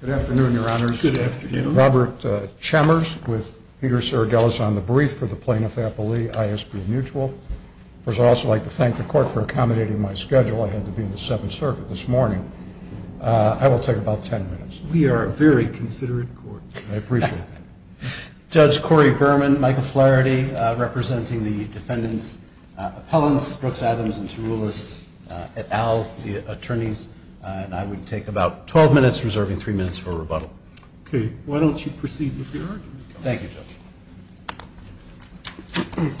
Good afternoon, Your Honors. Good afternoon. Robert Chambers with Peter Saragelis on the brief for the Plaintiff-Appley ISB Mutual. First, I'd also like to thank the Court for accommodating my schedule. I had to be in the Seventh Circuit this morning. I will take about ten minutes. We are a very considerate Court. I appreciate that. Judge Corey Berman, Michael Flaherty, representing the Defendant's Appellants, Brooks, Adams & Tarulis, et al., the Attorneys, and I would take about 12 minutes, reserving three minutes for rebuttal. Okay. Why don't you proceed with your argument, Judge? Thank you, Judge.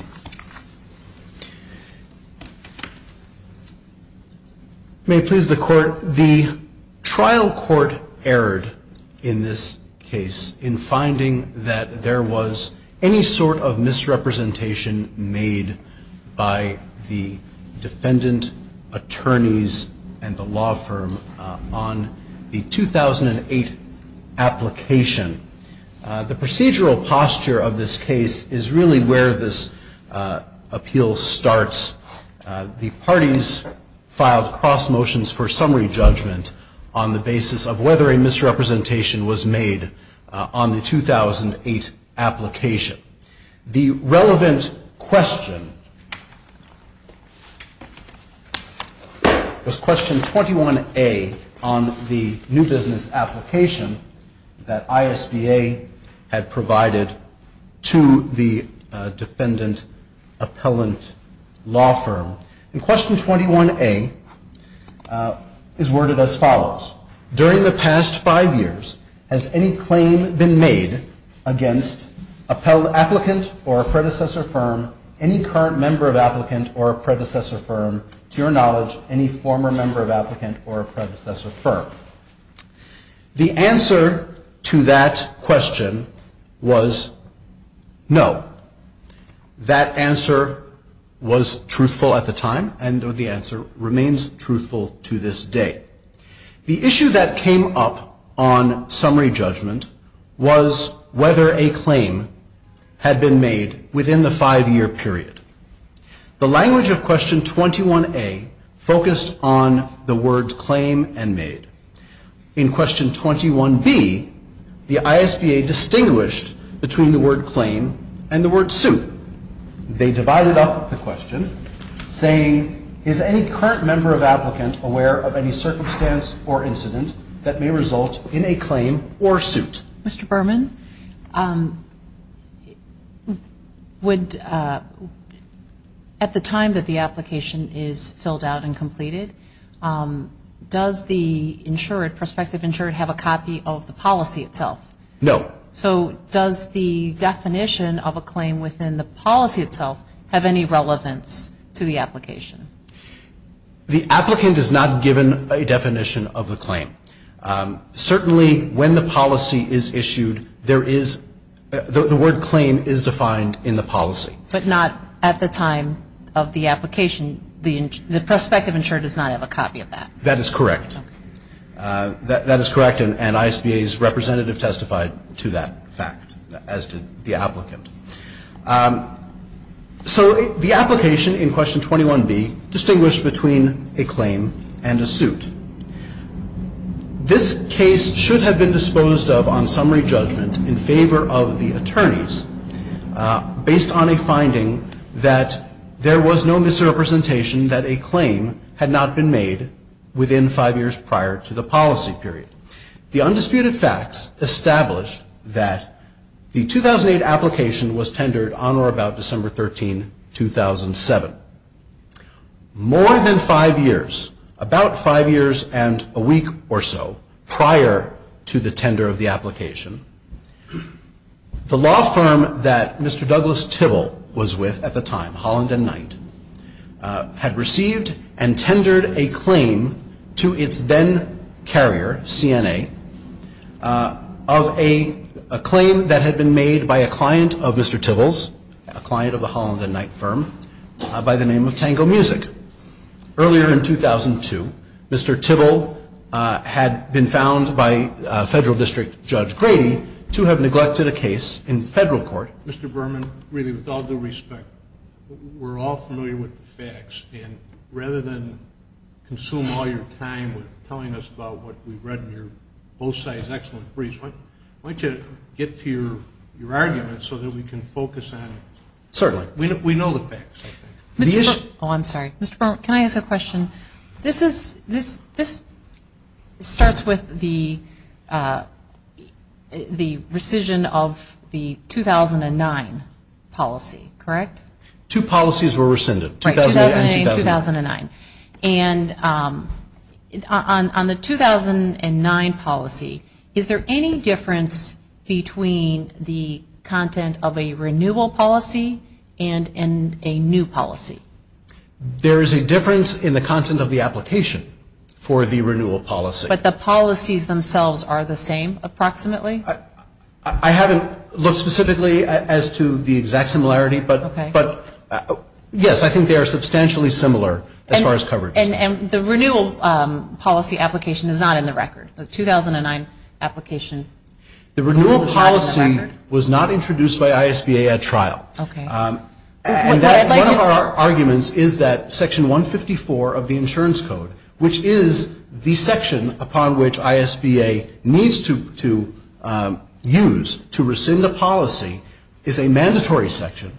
May it please the Court, the trial court erred in this case in finding that there was any sort of misrepresentation made by the Defendant, Attorneys, and the law firm on the 2008 application. The procedural posture of this case is really where this appeal starts. The parties filed cross motions for summary judgment on the basis of whether a misrepresentation was made on the 2008 application. The relevant question was Question 21A on the new business application that ISBA had provided to the Defendant Appellant Law Firm, and Question 21A is worded as follows. During the past five years, has any claim been made against an appellant or a predecessor firm, any current member of applicant or a predecessor firm, to your knowledge, any former member of applicant or a predecessor firm? The answer to that question was no. That answer was truthful at the time, and the answer remains truthful to this day. The issue that came up on summary judgment was whether a claim had been made within the five-year period. The language of Question 21A focused on the words claim and made. In Question 21B, the ISBA distinguished between the word claim and the word suit. They divided up the question saying, is any current member of applicant aware of any circumstance or incident that may result in a claim or suit? Mr. Berman, at the time that the application is filled out and completed, does the prospective insured have a copy of the policy itself? No. So does the definition of a claim within the policy itself have any relevance to the application? The applicant is not given a definition of the claim. Certainly when the policy is issued, the word claim is defined in the policy. But not at the time of the application, the prospective insured does not have a copy of that? That is correct. That is correct and ISBA's representative testified to that fact, as did the applicant. So the application in Question 21B distinguished between a claim and a suit. This case should have been disposed of on summary judgment in favor of the attorneys based on a finding that there was no misrepresentation that a claim had not been made within five years prior to the policy period. The undisputed facts established that the 2008 application was tendered on or about December 13, 2007. More than five years, about five years and a week or so prior to the tender of the application, the law firm that Mr. Douglas Tibble was with at the time, Holland and Knight, had received and tendered a claim to its then-carrier, CNA, of a claim that had been made by a client of Mr. Tibble's, a client of the Holland and Knight firm, by the name of Tango Music. Earlier in 2002, Mr. Tibble had been found by Federal District Judge Grady to have neglected a case in Federal court. Mr. Berman, really, with all due respect, we're all familiar with the facts, and rather than consume all your time with telling us about what we've read in your both sides' excellent briefs, why don't you get to your argument so that we can focus on it? Certainly. We know the facts, I think. Oh, I'm sorry. Mr. Berman, can I ask a question? This starts with the rescission of the 2009 policy, correct? Two policies were rescinded, 2008 and 2009. Right, 2008 and 2009. On the 2009 policy, is there any difference between the content of a renewal policy and a new policy? There is a difference in the content of the application for the renewal policy. But the policies themselves are the same, approximately? I haven't looked specifically as to the exact similarity, but yes, I think they are substantially similar as far as coverage. And the renewal policy application is not in the record, the 2009 application? No. Okay. One of our arguments is that Section 154 of the Insurance Code, which is the section upon which ISBA needs to use to rescind a policy, is a mandatory section,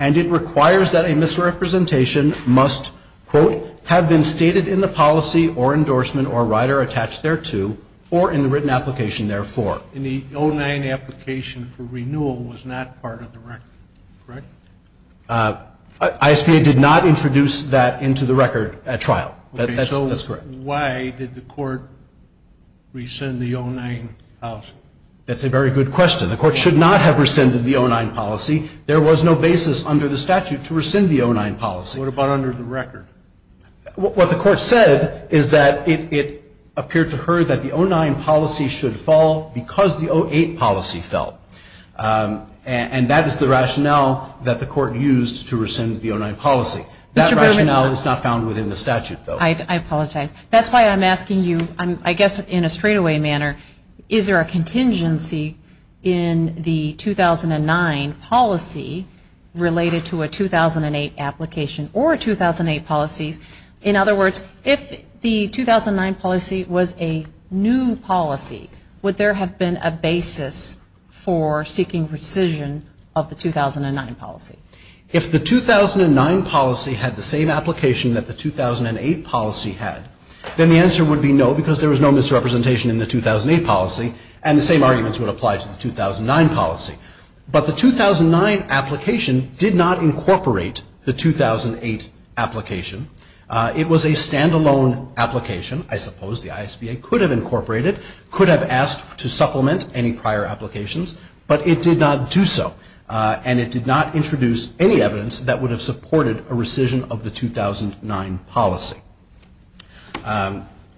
and it requires that a misrepresentation must, quote, have been stated in the policy or endorsement or endorsement of the policy. And the 2009 application for renewal was not part of the record, correct? ISBA did not introduce that into the record at trial, that's correct. Why did the Court rescind the 2009 policy? That's a very good question. The Court should not have rescinded the 2009 policy. There was no basis under the statute to rescind the 2009 policy. What about under the record? What the Court said is that it appeared to her that the 2009 policy should fall because the 2008 policy fell. And that is the rationale that the Court used to rescind the 2009 policy. That rationale is not found within the statute, though. I apologize. That's why I'm asking you, I guess in a straightaway manner, is there a contingency in the 2009 policy related to a 2008 application or 2008 policies? In other words, if the 2009 policy was a new policy, would there have been a basis for seeking rescission of the 2009 policy? If the 2009 policy had the same application that the 2008 policy had, then the answer would be no, because there was no misrepresentation in the 2008 policy, and the same arguments would apply to the 2009 policy. But the 2009 application did not incorporate the 2008 application. It was a stand-alone application. I suppose the ISBA could have incorporated, could have asked to supplement any prior applications, but it did not do so, and it did not introduce any evidence that would have supported a rescission of the 2009 policy.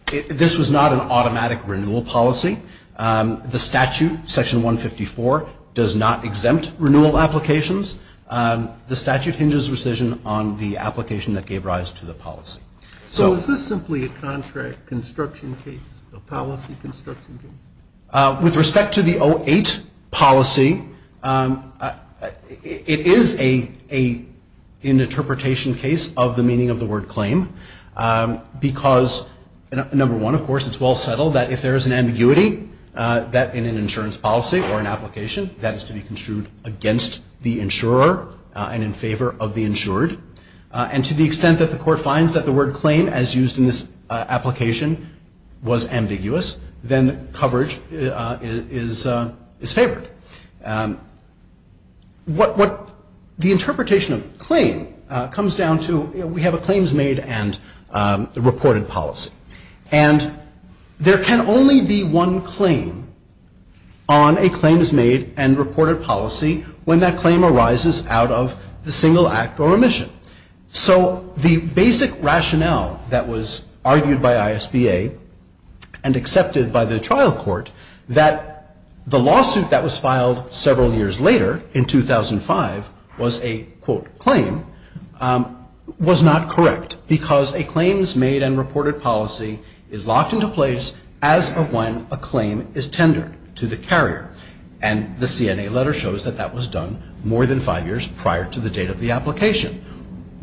This was not an automatic renewal policy. The statute, section 154, does not exempt renewal applications. The statute hinges rescission on the application that gave rise to the policy. So is this simply a contract construction case, a policy construction case? With respect to the 2008 policy, it is an interpretation case of the meaning of the policy, that in an insurance policy or an application, that is to be construed against the insurer and in favor of the insured. And to the extent that the court finds that the word claim, as used in this application, was ambiguous, then coverage is favored. The interpretation of claim comes down to, we have a claims-made and a reported policy. And there can only be one claim on a claims-made and reported policy when that claim arises out of the single act or remission. So the basic rationale that was argued by ISBA and accepted by the trial court, that the lawsuit that was filed several years later, in 2005, was a, quote, claim, was not correct because a claims-made and reported policy is locked into place as of when a claim is tendered to the carrier. And the CNA letter shows that that was done more than five years prior to the date of the application.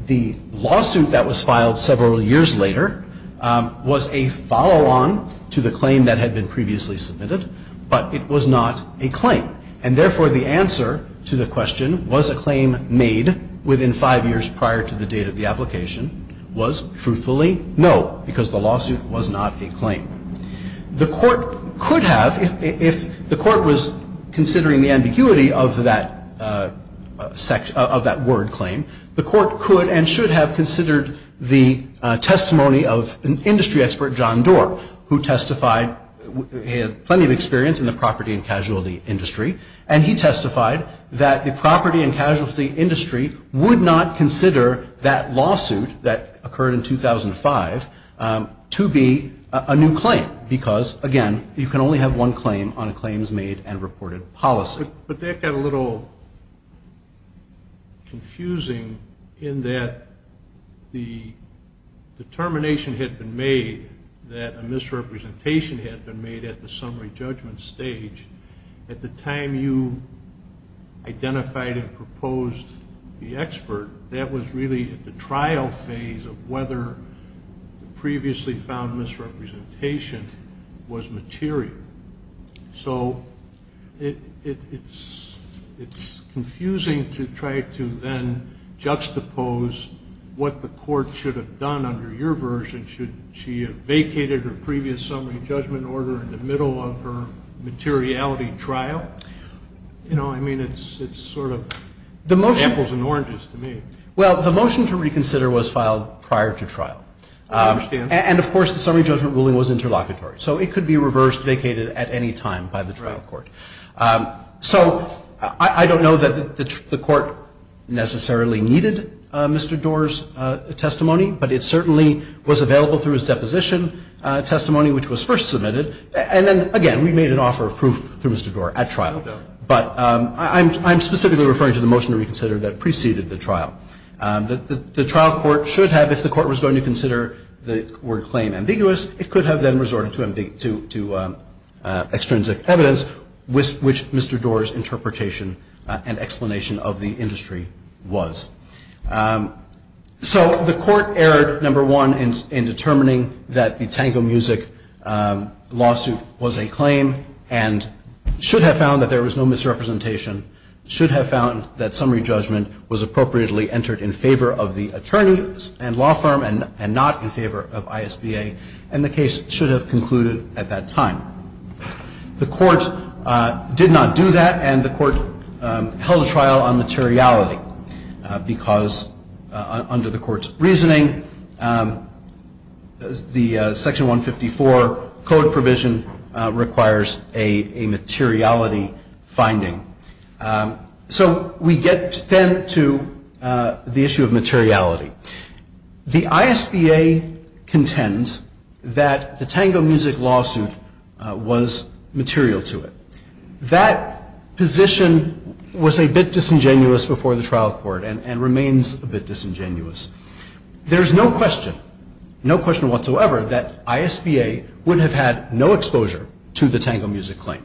The lawsuit that was filed several years later was a follow-on to the claim that had been previously submitted, but it was not a claim. And therefore, the answer to the question, was a claim made within five years prior to the date of the application, was truthfully, no, because the lawsuit was not a claim. The court could have, if the court was considering the ambiguity of that word claim, the court could and should have considered the testimony of an industry expert, John Doar, who testified he had plenty of experience in the property and casualty industry. And he testified that the property and casualty industry would not consider that lawsuit that occurred in 2005 to be a new claim because, again, you can only have one claim on a claims-made and reported policy. But that got a little confusing in that the determination had been made that a misrepresentation had been made at the summary judgment stage. At the time you identified and proposed the expert, that was really at the trial phase of whether the previously found misrepresentation was material. So it's confusing to try to then juxtapose what the court should have done under your version. Should she have vacated her previous summary judgment order in the middle of her materiality trial? You know, I mean, it's sort of apples and oranges to me. Well, the motion to reconsider was filed prior to trial. I understand. And, of course, the summary judgment ruling was interlocutory. So it could be reversed, vacated at any time by the trial court. So I don't know that the court necessarily needed Mr. Doar's testimony, but it certainly was available through his deposition testimony, which was first submitted. And then, again, we made an offer of proof through Mr. Doar at trial. No doubt. But I'm specifically referring to the motion to reconsider that preceded the trial. The trial court should have, if the court was going to consider the word claim ambiguous, it could have then resorted to extrinsic evidence, which Mr. Doar's interpretation and explanation of the industry was. So the court erred, number one, in determining that the Tango Music lawsuit was a claim and should have found that there was no misrepresentation, should have found that summary judgment was appropriately entered in favor of the attorneys and law firm and not in favor of ISBA, and the case should have concluded at that time. The court did not do that, and the court held a trial on materiality. Because under the court's reasoning, the Section 154 code provision requires a materiality finding. So we get then to the issue of materiality. The ISBA contends that the Tango Music lawsuit was material to it. That position was a bit disingenuous before the trial court and remains a bit disingenuous. There's no question, no question whatsoever, that ISBA would have had no exposure to the Tango Music claim.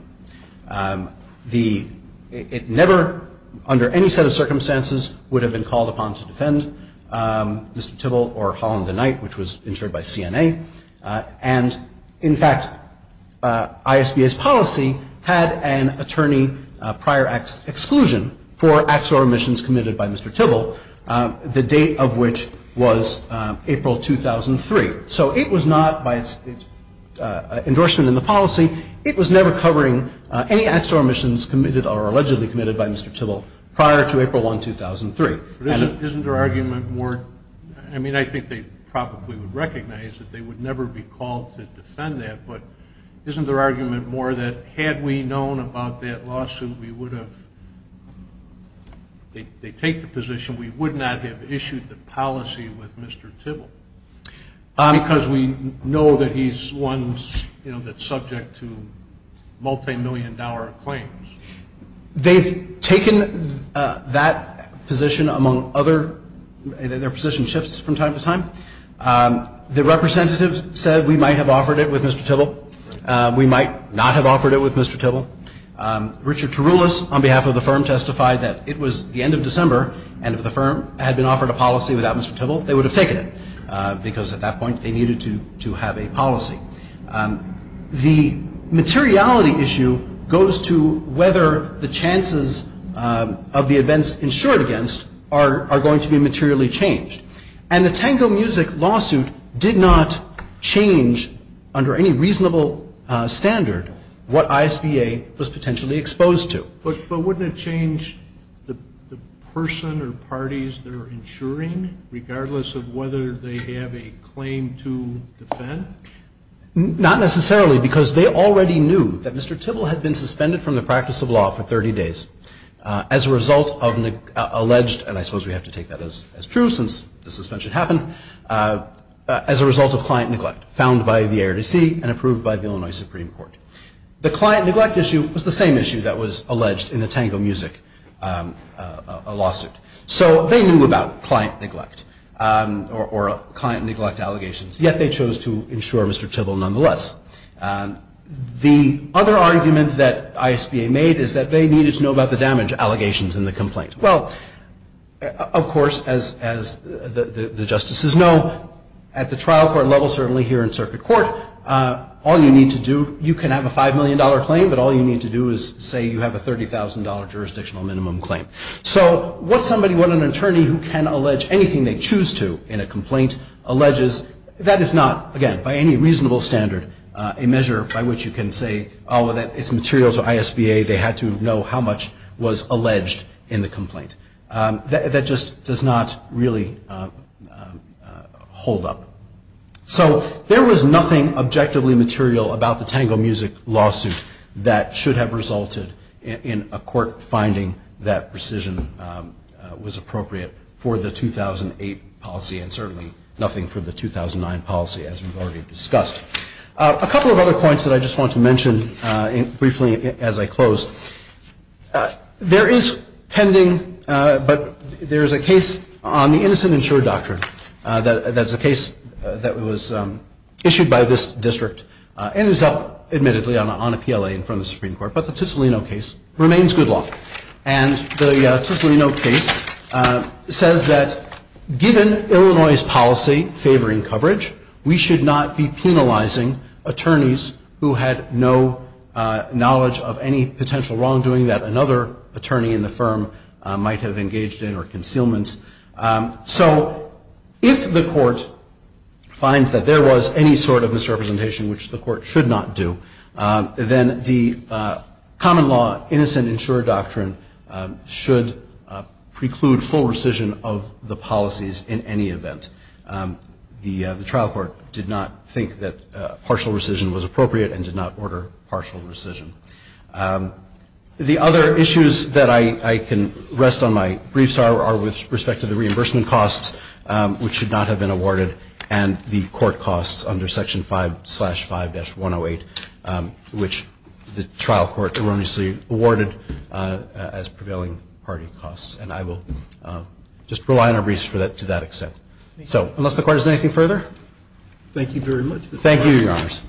It never, under any set of circumstances, would have been called upon to defend Mr. Tibble or Holland and Knight, which was insured by CNA. And in fact, ISBA's policy had an attorney prior exclusion for acts or omissions committed by Mr. Tibble, the date of which was April 2003. So it was not, by its endorsement in the policy, it was never covering any acts or omissions committed or allegedly committed by Mr. Tibble prior to April 1, 2003. Isn't their argument more, I mean, I think they probably would recognize that they would never be called to defend that, but isn't their argument more that had we known about that lawsuit, we would have, they take the position, we would not have issued the policy with Mr. Tibble? Because we know that he's one that's subject to multimillion dollar claims. They've taken that position among other, their position shifts from time to time. The representative said we might have offered it with Mr. Tibble. We might not have offered it with Mr. Tibble. Richard Tarullos, on behalf of the firm, testified that it was the end of December, and if the firm had been offered a policy without Mr. Tibble, they would have taken it, because at that point they needed to have a policy. The materiality issue goes to whether the chances of the events insured against are going to be materially changed, and the Tango Music lawsuit did not change under any reasonable standard what ISBA was potentially exposed to. But wouldn't it change the person or parties they're insuring, regardless of whether they have a claim to defend? Not necessarily, because they already knew that Mr. Tibble had been suspended from the practice of law for 30 days as a result of alleged, and I suppose we have to take that as true since the suspension happened, as a result of client neglect found by the ARDC and approved by the Illinois Supreme Court. The client neglect issue was the same issue that was alleged in the Tango Music lawsuit. So they knew about client neglect, or client neglect allegations, yet they chose to insure Mr. Tibble nonetheless. The other argument that ISBA made is that they needed to know about the damage allegations in the complaint. Well, of course, as the justices know, at the trial court level, certainly here in circuit court, all you need to do, you can have a $5 million claim, but all you need to do is say you have a $30,000 jurisdictional minimum claim. So what somebody, what an attorney who can allege anything they choose to in a complaint alleges, that is not, again, by any reasonable standard, a measure by which you can say, oh, it's material to ISBA, they had to know how much was alleged in the complaint. That just does not really hold up. So there was nothing objectively material about the Tango Music lawsuit that should have resulted in a court finding that precision was appropriate for the 2008 policy, and certainly nothing for the 2009 policy, as we've already discussed. A couple of other points that I just want to mention briefly as I close. There is pending, but there is a case on the Innocent Insured Doctrine. That's a case that was issued by this district, and is up, admittedly, on a PLA in front of me, but the Ticillino case remains good law. And the Ticillino case says that given Illinois' policy favoring coverage, we should not be penalizing attorneys who had no knowledge of any potential wrongdoing that another attorney in the firm might have engaged in or concealments. So if the court finds that there was any sort of misrepresentation, which the court should not do, then the common law Innocent Insured Doctrine should preclude full rescission of the policies in any event. The trial court did not think that partial rescission was appropriate and did not order partial rescission. The other issues that I can rest on my briefs are with respect to the reimbursement costs, which should not have been awarded, and the court costs under Section 5, slash 5-108, which the trial court erroneously awarded as prevailing party costs. And I will just rely on our briefs to that extent. So unless the court has anything further? Thank you very much. Thank you, Your Honors.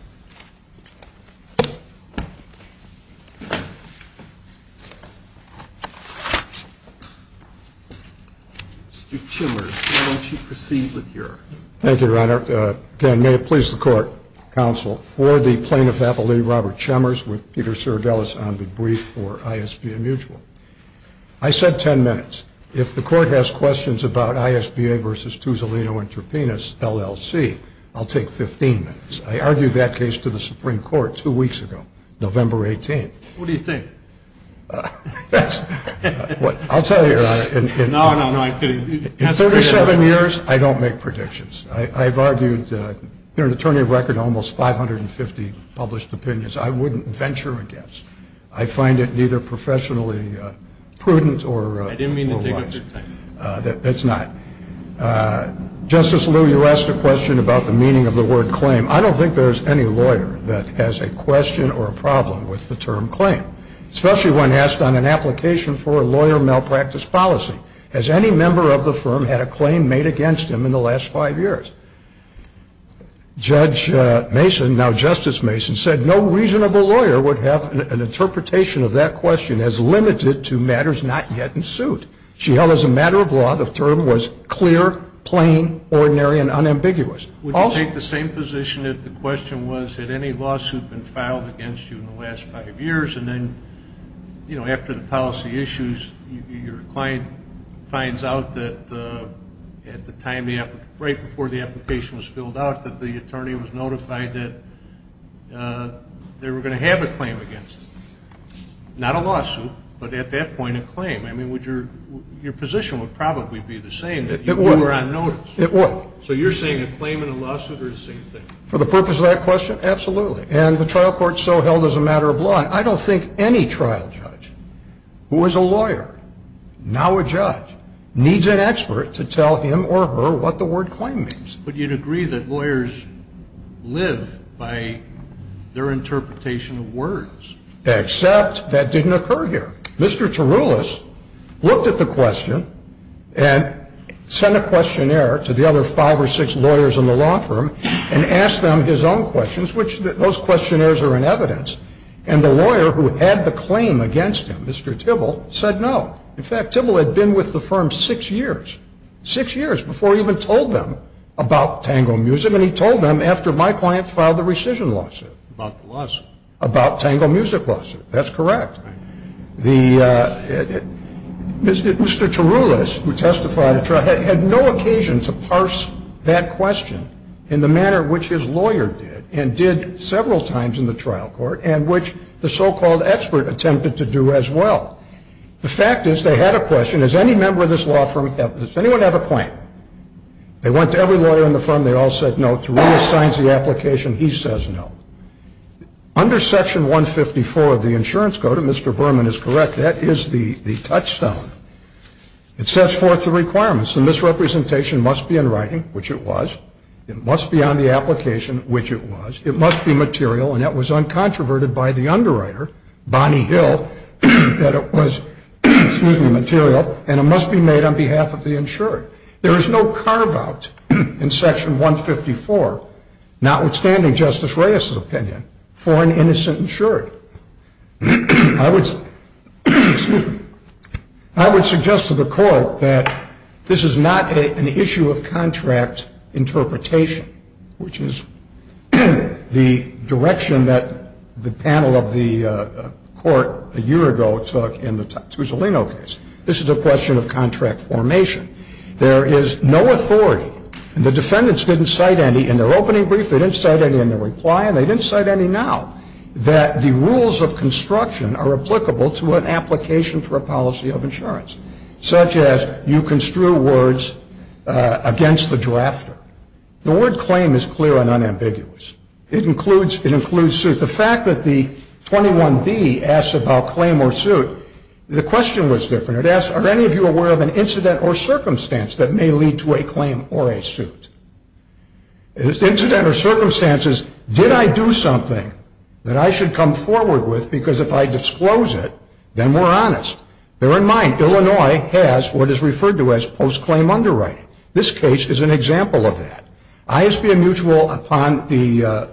Mr. Chimmers, why don't you proceed with your... Thank you, Your Honor. Again, may it please the court, counsel, for the Plaintiff's Appellate, Robert Chimmers, with Peter Serdelis on the brief for ISBA Mutual. I said 10 minutes. If the court has questions about ISBA v. Ticillino Interpenis, LLC, I'll take 15 minutes. I argue that is not the case. I brought that case to the Supreme Court two weeks ago, November 18th. What do you think? I'll tell you, Your Honor. No, no, no, I'm kidding. In 37 years, I don't make predictions. I've argued, as an attorney of record, almost 550 published opinions I wouldn't venture against. I find it neither professionally prudent or wise. It's not. Justice Liu, you asked a question about the meaning of the word claim. I don't think there's any lawyer that has a question or a problem with the term claim, especially when asked on an application for a lawyer malpractice policy. Has any member of the firm had a claim made against him in the last five years? Judge Mason, now Justice Mason, said no reasonable lawyer would have an interpretation of that question as limited to matters not yet in suit. She held, as a matter of law, the term was clear, plain, ordinary and unambiguous. Would you take the same position if the question was had any lawsuit been filed against you in the last five years and then, you know, after the policy issues, your client finds out that at the time, right before the application was filled out, that the attorney was notified that they were going to have a claim against him? Not a lawsuit, but at that point a claim. I mean, would your position would probably be the same if you were on notice? It would. So you're saying a claim and a lawsuit are the same thing? For the purpose of that question, absolutely. And the trial court so held as a matter of law. I don't think any trial judge who was a lawyer, now a judge, needs an expert to tell him or her what the word claim means. But you'd agree that lawyers live by their interpretation of words? Except that didn't occur here. Mr. Tarullos looked at the question and sent a questionnaire to the other five or six lawyers in the law firm and asked them his own questions, which those questionnaires are in evidence. And the lawyer who had the claim against him, Mr. Tibble, said no. In fact, Tibble had been with the firm six years, six years before he even told them about Tango Music and he told them after my client filed the rescission lawsuit. About the lawsuit? About Tango Music lawsuit. That's correct. Mr. Tarullos, who testified, had no occasion to parse that question in the manner which his lawyer did and did several times in the trial court and which the so-called expert attempted to do as well. The fact is they had a question, does any member of this law firm, does anyone have a claim? They went to every lawyer in the firm, they all said no. Tarullos signs the application, he says no. Under Section 154 of the Insurance Code, if Mr. Berman is correct, that is the touchstone. It sets forth the requirements. The misrepresentation must be in writing, which it was. It must be on the application, which it was. It must be material, and it was uncontroverted by the underwriter, Bonnie Hill, that it was, excuse me, material. And it must be made on behalf of the insured. There is no carve-out in Section 154, notwithstanding Justice Reyes's opinion, for an innocent insured. I would suggest to the Court that this is not an issue of contract interpretation, which is the direction that the panel of the Court a year ago took in the Tussolino case. This is a question of contract formation. There is no authority, and the defendants didn't cite any in their opening brief, they didn't cite any in their reply, and they didn't cite any now, that the rules of construction are applicable to an application for a policy of insurance, such as you construe words against the drafter. The word claim is clear and unambiguous. It includes suit. The fact that the 21B asks about claim or suit, the question was different. It asks, are any of you aware of an incident or circumstance that may lead to a claim or a suit? An incident or circumstance is, did I do something that I should come forward with because if I disclose it, then we're honest? Bear in mind, Illinois has what is referred to as post-claim underwriting. This case is an example of that. ISBM mutual, upon the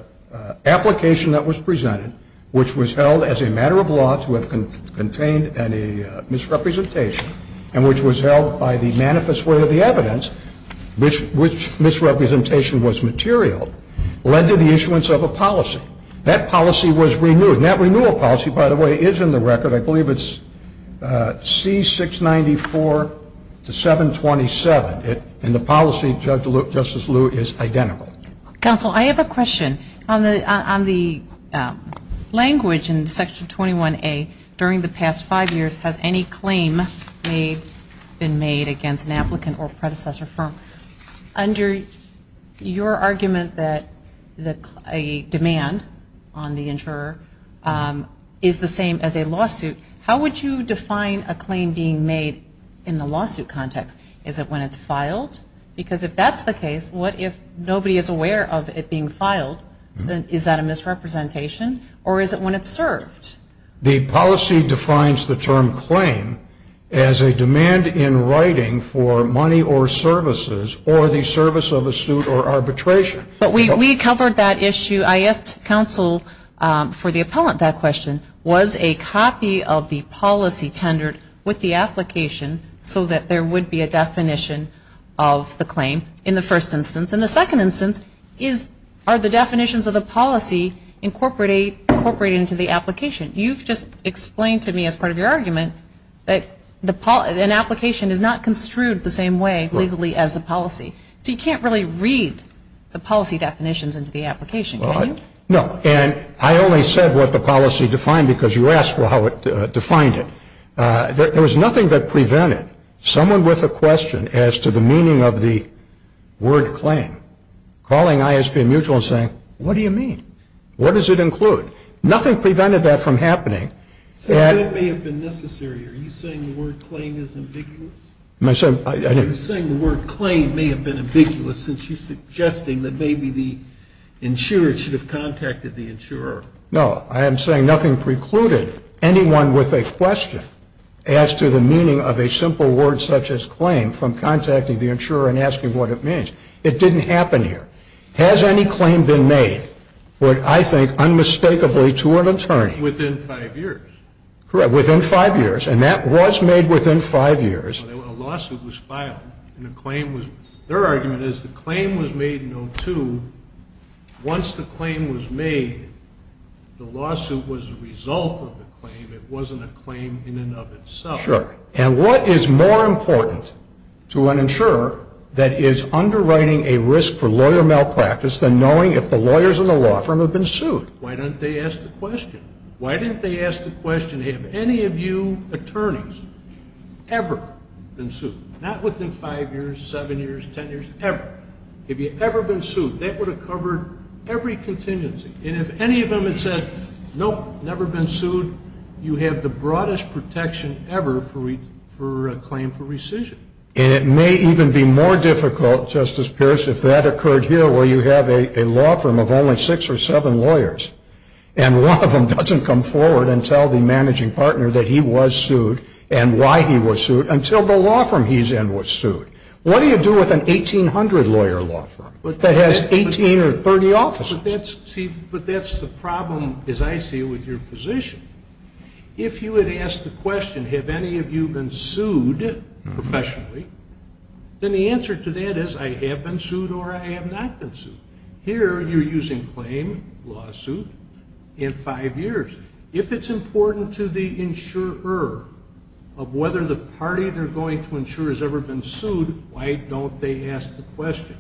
application that was presented, which was held as a matter of law to have contained any misrepresentation, and which was held by the manifest way of the evidence, which misrepresentation was material, led to the issuance of a policy. That policy was renewed, and that renewal policy, by the way, is in the record. I believe it's C694 to 727, and the policy, Justice Lew, is identical. Counsel, I have a question. On the language in Section 21A, during the past five years, has any claim been made against an applicant or predecessor firm? Under your argument that a demand on the insurer is the same as a lawsuit, how would you define a claim being made in the lawsuit context? Is it when it's filed? Because if that's the case, what if nobody is aware of it being filed, is that a misrepresentation, or is it when it's served? The policy defines the term claim as a demand in writing for money or services or the service of a suit or arbitration. But we covered that issue. I asked counsel for the appellant that question, was a copy of the policy tendered with the application, so that there would be a definition of the claim in the first instance? And the second instance, are the definitions of the policy incorporated into the application? You've just explained to me, as part of your argument, that an application is not construed the same way legally as a policy. So you can't really read the policy definitions into the application, can you? No, and I only said what the policy defined because you asked how it defined it. There was nothing that prevented someone with a question as to the meaning of the word claim, calling ISP and mutual and saying, what do you mean? What does it include? Nothing prevented that from happening. Since that may have been necessary, are you saying the word claim is ambiguous? Are you saying the word claim may have been ambiguous, since you're suggesting that maybe the insurer should have contacted the insurer? No. I am saying nothing precluded anyone with a question as to the meaning of a simple word such as claim from contacting the insurer and asking what it means. It didn't happen here. Has any claim been made, I think, unmistakably to an attorney? Within five years. Correct, within five years, and that was made within five years. A lawsuit was filed, and their argument is the claim was made in 02. Once the claim was made, the lawsuit was a result of the claim. It wasn't a claim in and of itself. And what is more important to an insurer that is underwriting a risk for lawyer malpractice than knowing if the lawyers in the law firm have been sued? Why didn't they ask the question? Have any of you attorneys ever been sued? Not within five years, seven years, ten years, ever. Have you ever been sued? That would have covered every contingency, and if any of them had said, nope, never been sued, you have the broadest protection ever for a claim for rescission. And it may even be more difficult, Justice Pierce, if that occurred here where you have a law firm of only six or seven lawyers, and one of them doesn't come forward and tell the managing partner that he was sued and why he was sued until the law firm he's in was sued. What do you do with an 1800 lawyer law firm that has 18 or 30 offices? But that's the problem, as I see it, with your position. If you had asked the question, have any of you been sued professionally, then the answer to that is I have been sued or I have not been sued. Here you're using claim, lawsuit, in five years. If it's important to the insurer of whether the party they're going to insure has ever been sued, why don't they ask the question?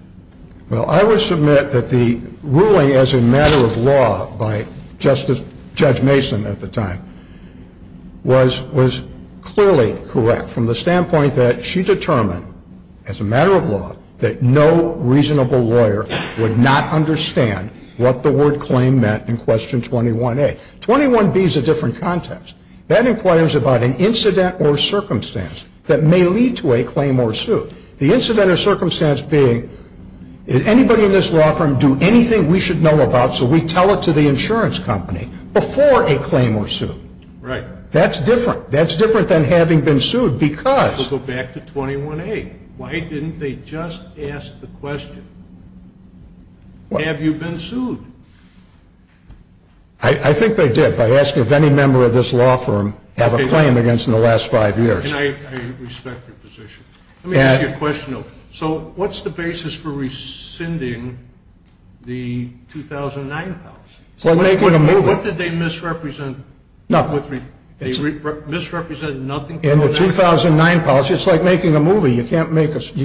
Well, I would submit that the ruling as a matter of law by Judge Mason at the time was clearly correct from the standpoint that she determined as a matter of law that no reasonable lawyer would not understand what the word claim meant in question 21A. 21B is a different context. That inquires about an incident or circumstance that may lead to a claim or a suit, the incident or circumstance being, did anybody in this law firm do anything we should know about so we tell it to the insurance company before a claim or a suit? Right. That's different. That's different than having been sued because. Go back to 21A. Why didn't they just ask the question, have you been sued? I think they did by asking if any member of this law firm had a claim against in the last five years. I respect your position. So what's the basis for rescinding the 2009 policy? What did they misrepresent? In the 2009 policy, it's like making a movie. You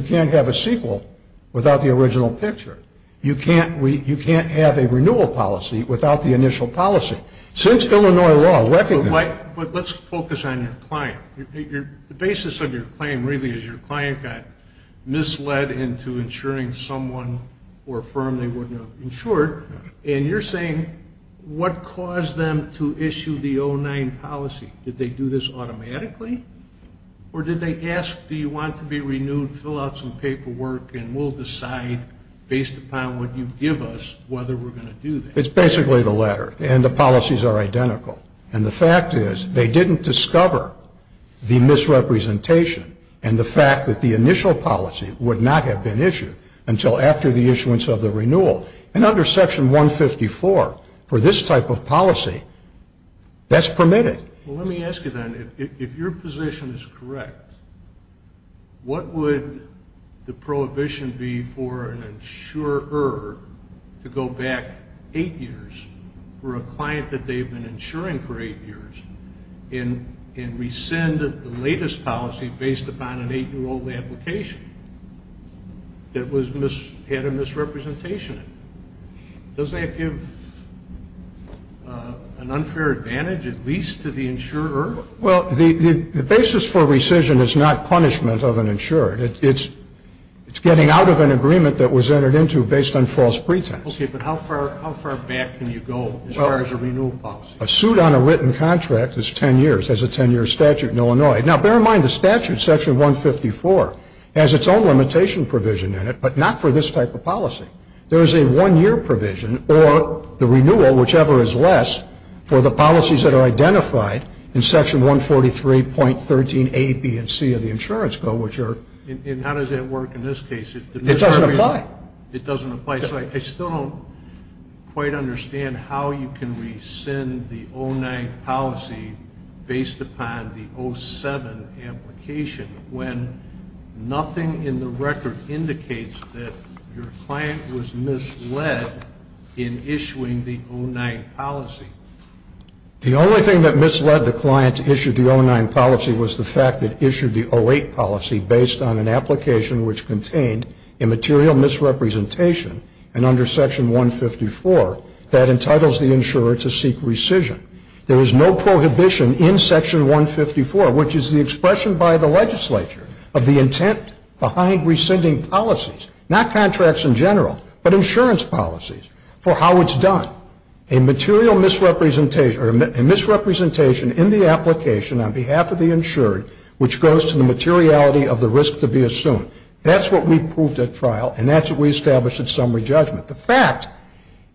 can't have a sequel without the original picture. You can't have a renewal policy without the initial policy. Since Illinois law recognizes. But let's focus on your client. The basis of your claim really is your client got misled into insuring someone or a firm they wouldn't have insured, and you're saying what caused them to issue the 2009 policy? Did they do this automatically or did they ask, do you want to be renewed, fill out some paperwork, and we'll decide based upon what you give us whether we're going to do that? It's basically the latter, and the policies are identical. And the fact is they didn't discover the misrepresentation and the fact that the initial policy would not have been issued until after the issuance of the renewal. And under section 154 for this type of policy, that's permitted. Well, let me ask you then, if your position is correct, what would the prohibition be for an insurer to go back eight years for a client that they've been insuring for eight years and rescind the latest policy based upon an eight-year-old application that had a misrepresentation? Does that give an unfair advantage at least to the insurer? Well, the basis for rescission is not punishment of an insurer. It's getting out of an agreement that was entered into based on false pretense. Okay, but how far back can you go as far as a renewal policy? A suit on a written contract is 10 years. There's a 10-year statute in Illinois. Now, bear in mind the statute, section 154, has its own limitation provision in it, but not for this type of policy. There is a one-year provision, or the renewal, whichever is less, for the policies that are identified in section 143.13A, B, and C of the Insurance Code, which are... And how does that work in this case? It doesn't apply. It doesn't apply. So I still don't quite understand how you can rescind the 09 policy based upon the 07 application when nothing in the record indicates that your client was misled in issuing the 09 policy. The only thing that misled the client to issue the 09 policy was the fact that it issued the 08 policy based on an application which contained immaterial misrepresentation, and under section 154, that entitles the insurer to seek rescission. There is no prohibition in section 154, which is the expression by the legislature of the intent behind rescinding policies, not contracts in general, but insurance policies, for how it's done. A material misrepresentation in the application on behalf of the insured, which goes to the materiality of the risk to be assumed. That's what we proved at trial, and that's what we established at summary judgment. The fact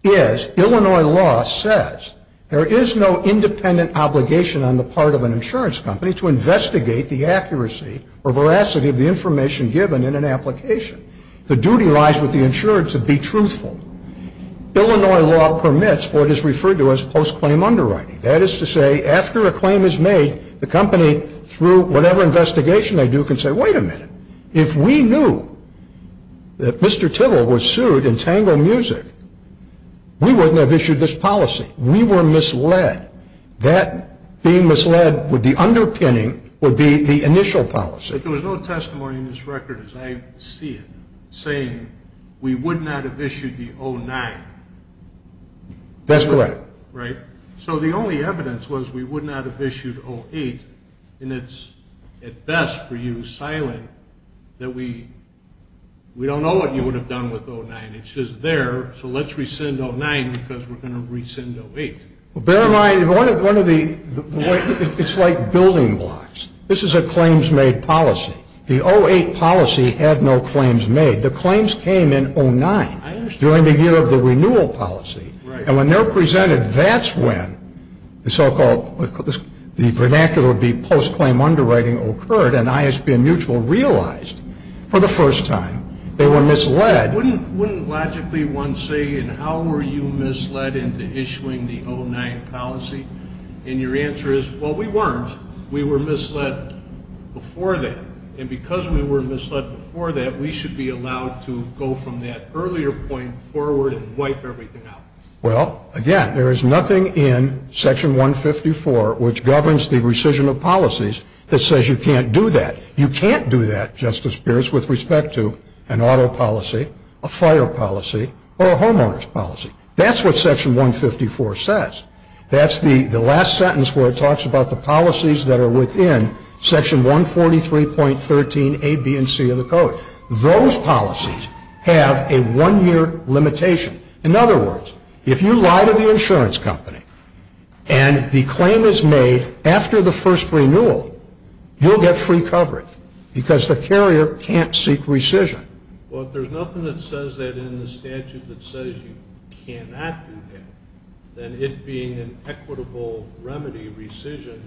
is, Illinois law says there is no independent obligation on the part of an insurance company to investigate the accuracy or veracity of the information given in an application. The duty lies with the insured to be truthful. Illinois law permits what is referred to as post-claim underwriting. That is to say, after a claim is made, the company, through whatever investigation they do, can say, wait a minute. If we knew that Mr. Tibble was sued in Tango Music, we wouldn't have issued this policy. We were misled. That being misled with the underpinning would be the initial policy. But there was no testimony in this record, as I see it, saying we would not have issued the 09. That's correct. Right. So the only evidence was we would not have issued 08, and it's at best for you, Silent, that we don't know what you would have done with 09. It's just there, so let's rescind 09 because we're going to rescind 08. Well, bear in mind, it's like building blocks. This is a claims-made policy. The 08 policy had no claims made. The claims came in 09, during the year of the renewal policy. Right. And when they're presented, that's when the so-called vernacular would be post-claim underwriting occurred, and ISB and Mutual realized for the first time they were misled. Wouldn't logically one say, and how were you misled into issuing the 09 policy? And your answer is, well, we weren't. We were misled before that. And because we were misled before that, we should be allowed to go from that earlier point forward and wipe everything out. Well, again, there is nothing in Section 154, which governs the rescission of policies, that says you can't do that. You can't do that, Justice Pierce, with respect to an auto policy, a fire policy, or a homeowner's policy. That's what Section 154 says. That's the last sentence where it talks about the policies that are within Section 143.13A, B, and C of the Code. Those policies have a one-year limitation. In other words, if you lie to the insurance company and the claim is made after the first renewal, you'll get free coverage, because the carrier can't seek rescission. Well, if there's nothing that says that in the statute that says you cannot do that, then it being an equitable remedy rescission,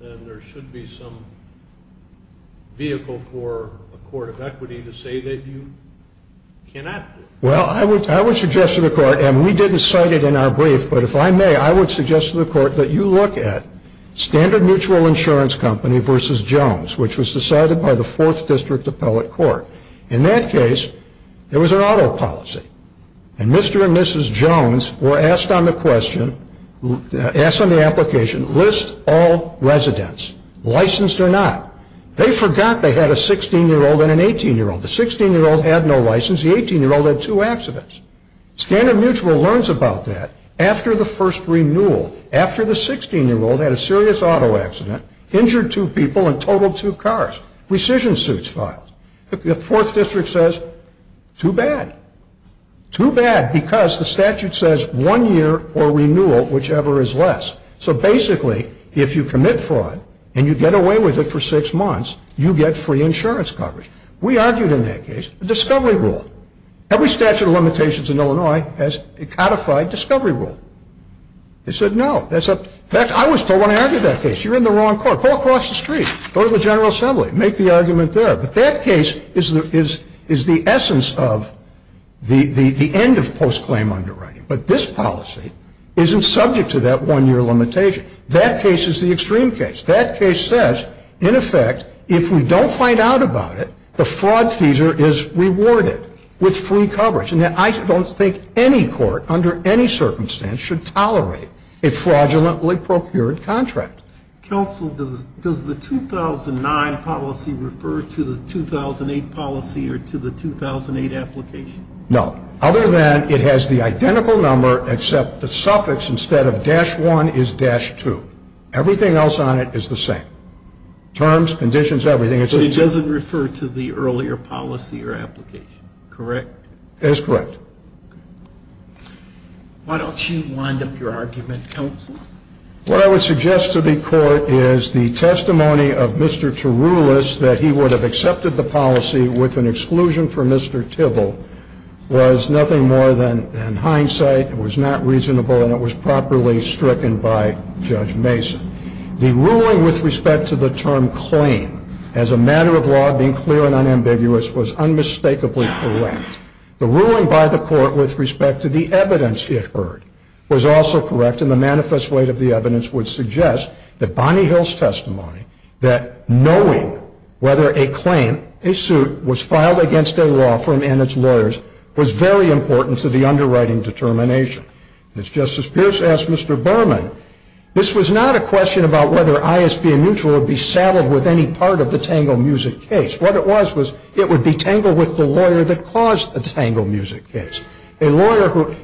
then there should be some vehicle for a court of equity to say that you cannot do that. Well, I would suggest to the Court, and we didn't cite it in our brief, but if I may, I would suggest to the Court that you look at Standard Mutual Insurance Company v. Jones, which was decided by the Fourth District Appellate Court. In that case, there was an auto policy, and Mr. and Mrs. Jones were asked on the question, asked on the application, list all residents, licensed or not. They forgot they had a 16-year-old and an 18-year-old. The 16-year-old had no license. The 18-year-old had two accidents. Standard Mutual learns about that after the first renewal, after the 16-year-old had a serious auto accident, injured two people, and totaled two cars. Rescission suits filed. The Fourth District says, too bad. Too bad because the statute says one year or renewal, whichever is less. So basically, if you commit fraud and you get away with it for six months, you get free insurance coverage. We argued in that case a discovery rule. Every statute of limitations in Illinois has a codified discovery rule. They said no. In fact, I was told when I argued that case, you're in the wrong court. Go across the street. Go to the General Assembly. Make the argument there. But that case is the essence of the end of post-claim underwriting. But this policy isn't subject to that one-year limitation. That case is the extreme case. That case says, in effect, if we don't find out about it, the fraud fees are rewarded with free coverage. And I don't think any court under any circumstance should tolerate a fraudulently procured contract. Counsel, does the 2009 policy refer to the 2008 policy or to the 2008 application? No. Other than it has the identical number except the suffix instead of dash 1 is dash 2. Everything else on it is the same. Terms, conditions, everything. So it doesn't refer to the earlier policy or application, correct? Why don't you wind up your argument, counsel? What I would suggest to the court is the testimony of Mr. Teroulas that he would have accepted the policy with an exclusion for Mr. Tibble was nothing more than hindsight. It was not reasonable and it was properly stricken by Judge Mason. The ruling with respect to the term claim as a matter of law being clear and unambiguous was unmistakably correct. The ruling by the court with respect to the evidence it heard was also correct and the manifest weight of the evidence would suggest that Bonnie Hill's testimony that knowing whether a claim, a suit, was filed against a law firm and its lawyers was very important to the underwriting determination. As Justice Pierce asked Mr. Berman, this was not a question about whether ISB and Mutual would be saddled with any part of the Tango Music case. What it was was it would be tangled with the lawyer that caused the Tango Music case. And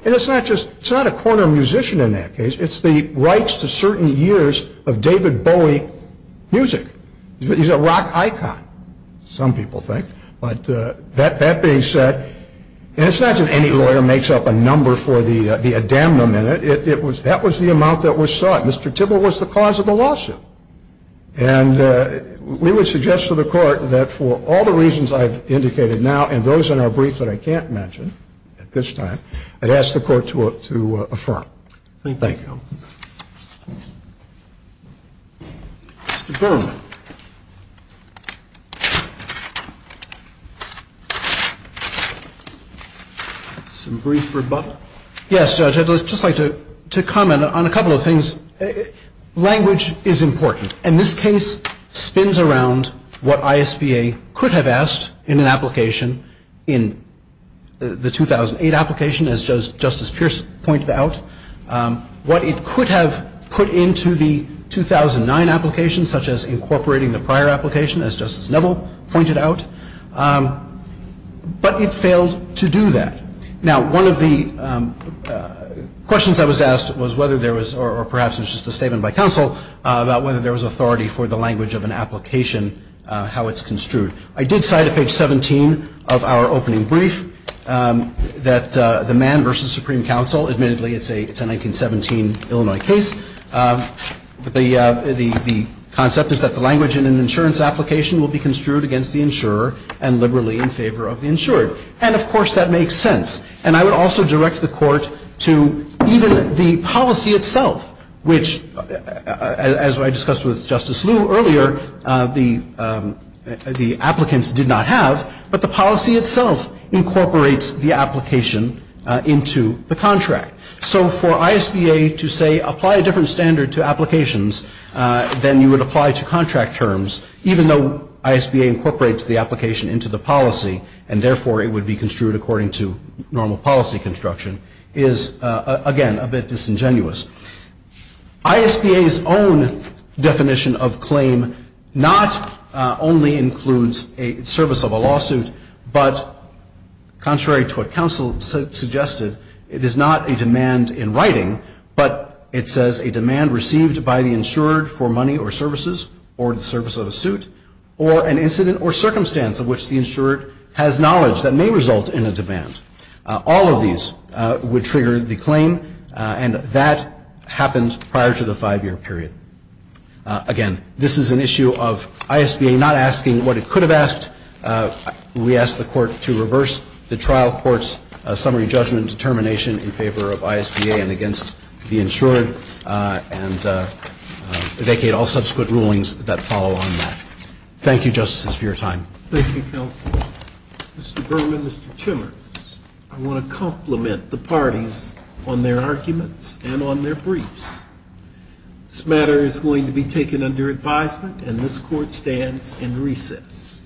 it's not just a corner musician in that case. It's the rights to certain years of David Bowie music. He's a rock icon, some people think. But that being said, it's not just any lawyer makes up a number for the adamnum in it. That was the amount that was sought. Mr. Tibble was the cause of the lawsuit. And we would suggest to the court that for all the reasons I've indicated now and those in our brief that I can't mention at this time, I'd ask the court to affirm. Thank you. Mr. Berman. Some brief rebuttal. Yes, Judge. I'd just like to comment on a couple of things. Language is important. And this case spins around what ISBA could have asked in an application in the 2008 application, as Justice Pierce pointed out. What it could have put into the 2009 application, such as incorporating the prior application, as Justice Neville pointed out. But it failed to do that. Now, one of the questions I was asked was whether there was, or perhaps it was just a statement by counsel, about whether there was authority for the language of an application, how it's construed. I did cite at page 17 of our opening brief that the Mann v. Supreme Counsel, admittedly it's a 1917 Illinois case, the concept is that the language in an insurance application will be construed against the insurer and liberally in favor of the insured. And, of course, that makes sense. And I would also direct the Court to even the policy itself, which as I discussed with Justice Liu earlier, the applicants did not have, but the policy itself incorporates the application into the contract. So for ISBA to say apply a different standard to applications than you would apply to contract terms, even though ISBA incorporates the application into the policy and therefore it would be construed according to normal policy construction, is, again, a bit disingenuous. ISBA's own definition of claim not only includes a service of a lawsuit, but contrary to what counsel suggested, it is not a demand in writing, but it says a demand received by the insured for money or services or the service of a suit or an incident or circumstance in which the insured has knowledge that may result in a demand. All of these would trigger the claim, and that happened prior to the five-year period. Again, this is an issue of ISBA not asking what it could have asked. We ask the Court to reverse the trial court's summary judgment determination in favor of ISBA and against the insured and vacate all subsequent rulings that follow on that. Thank you, Justices, for your time. Thank you, Counsel. Mr. Berman, Mr. Chimmers, I want to compliment the parties on their arguments and on their briefs. This matter is going to be taken under advisement, and this Court stands in recess.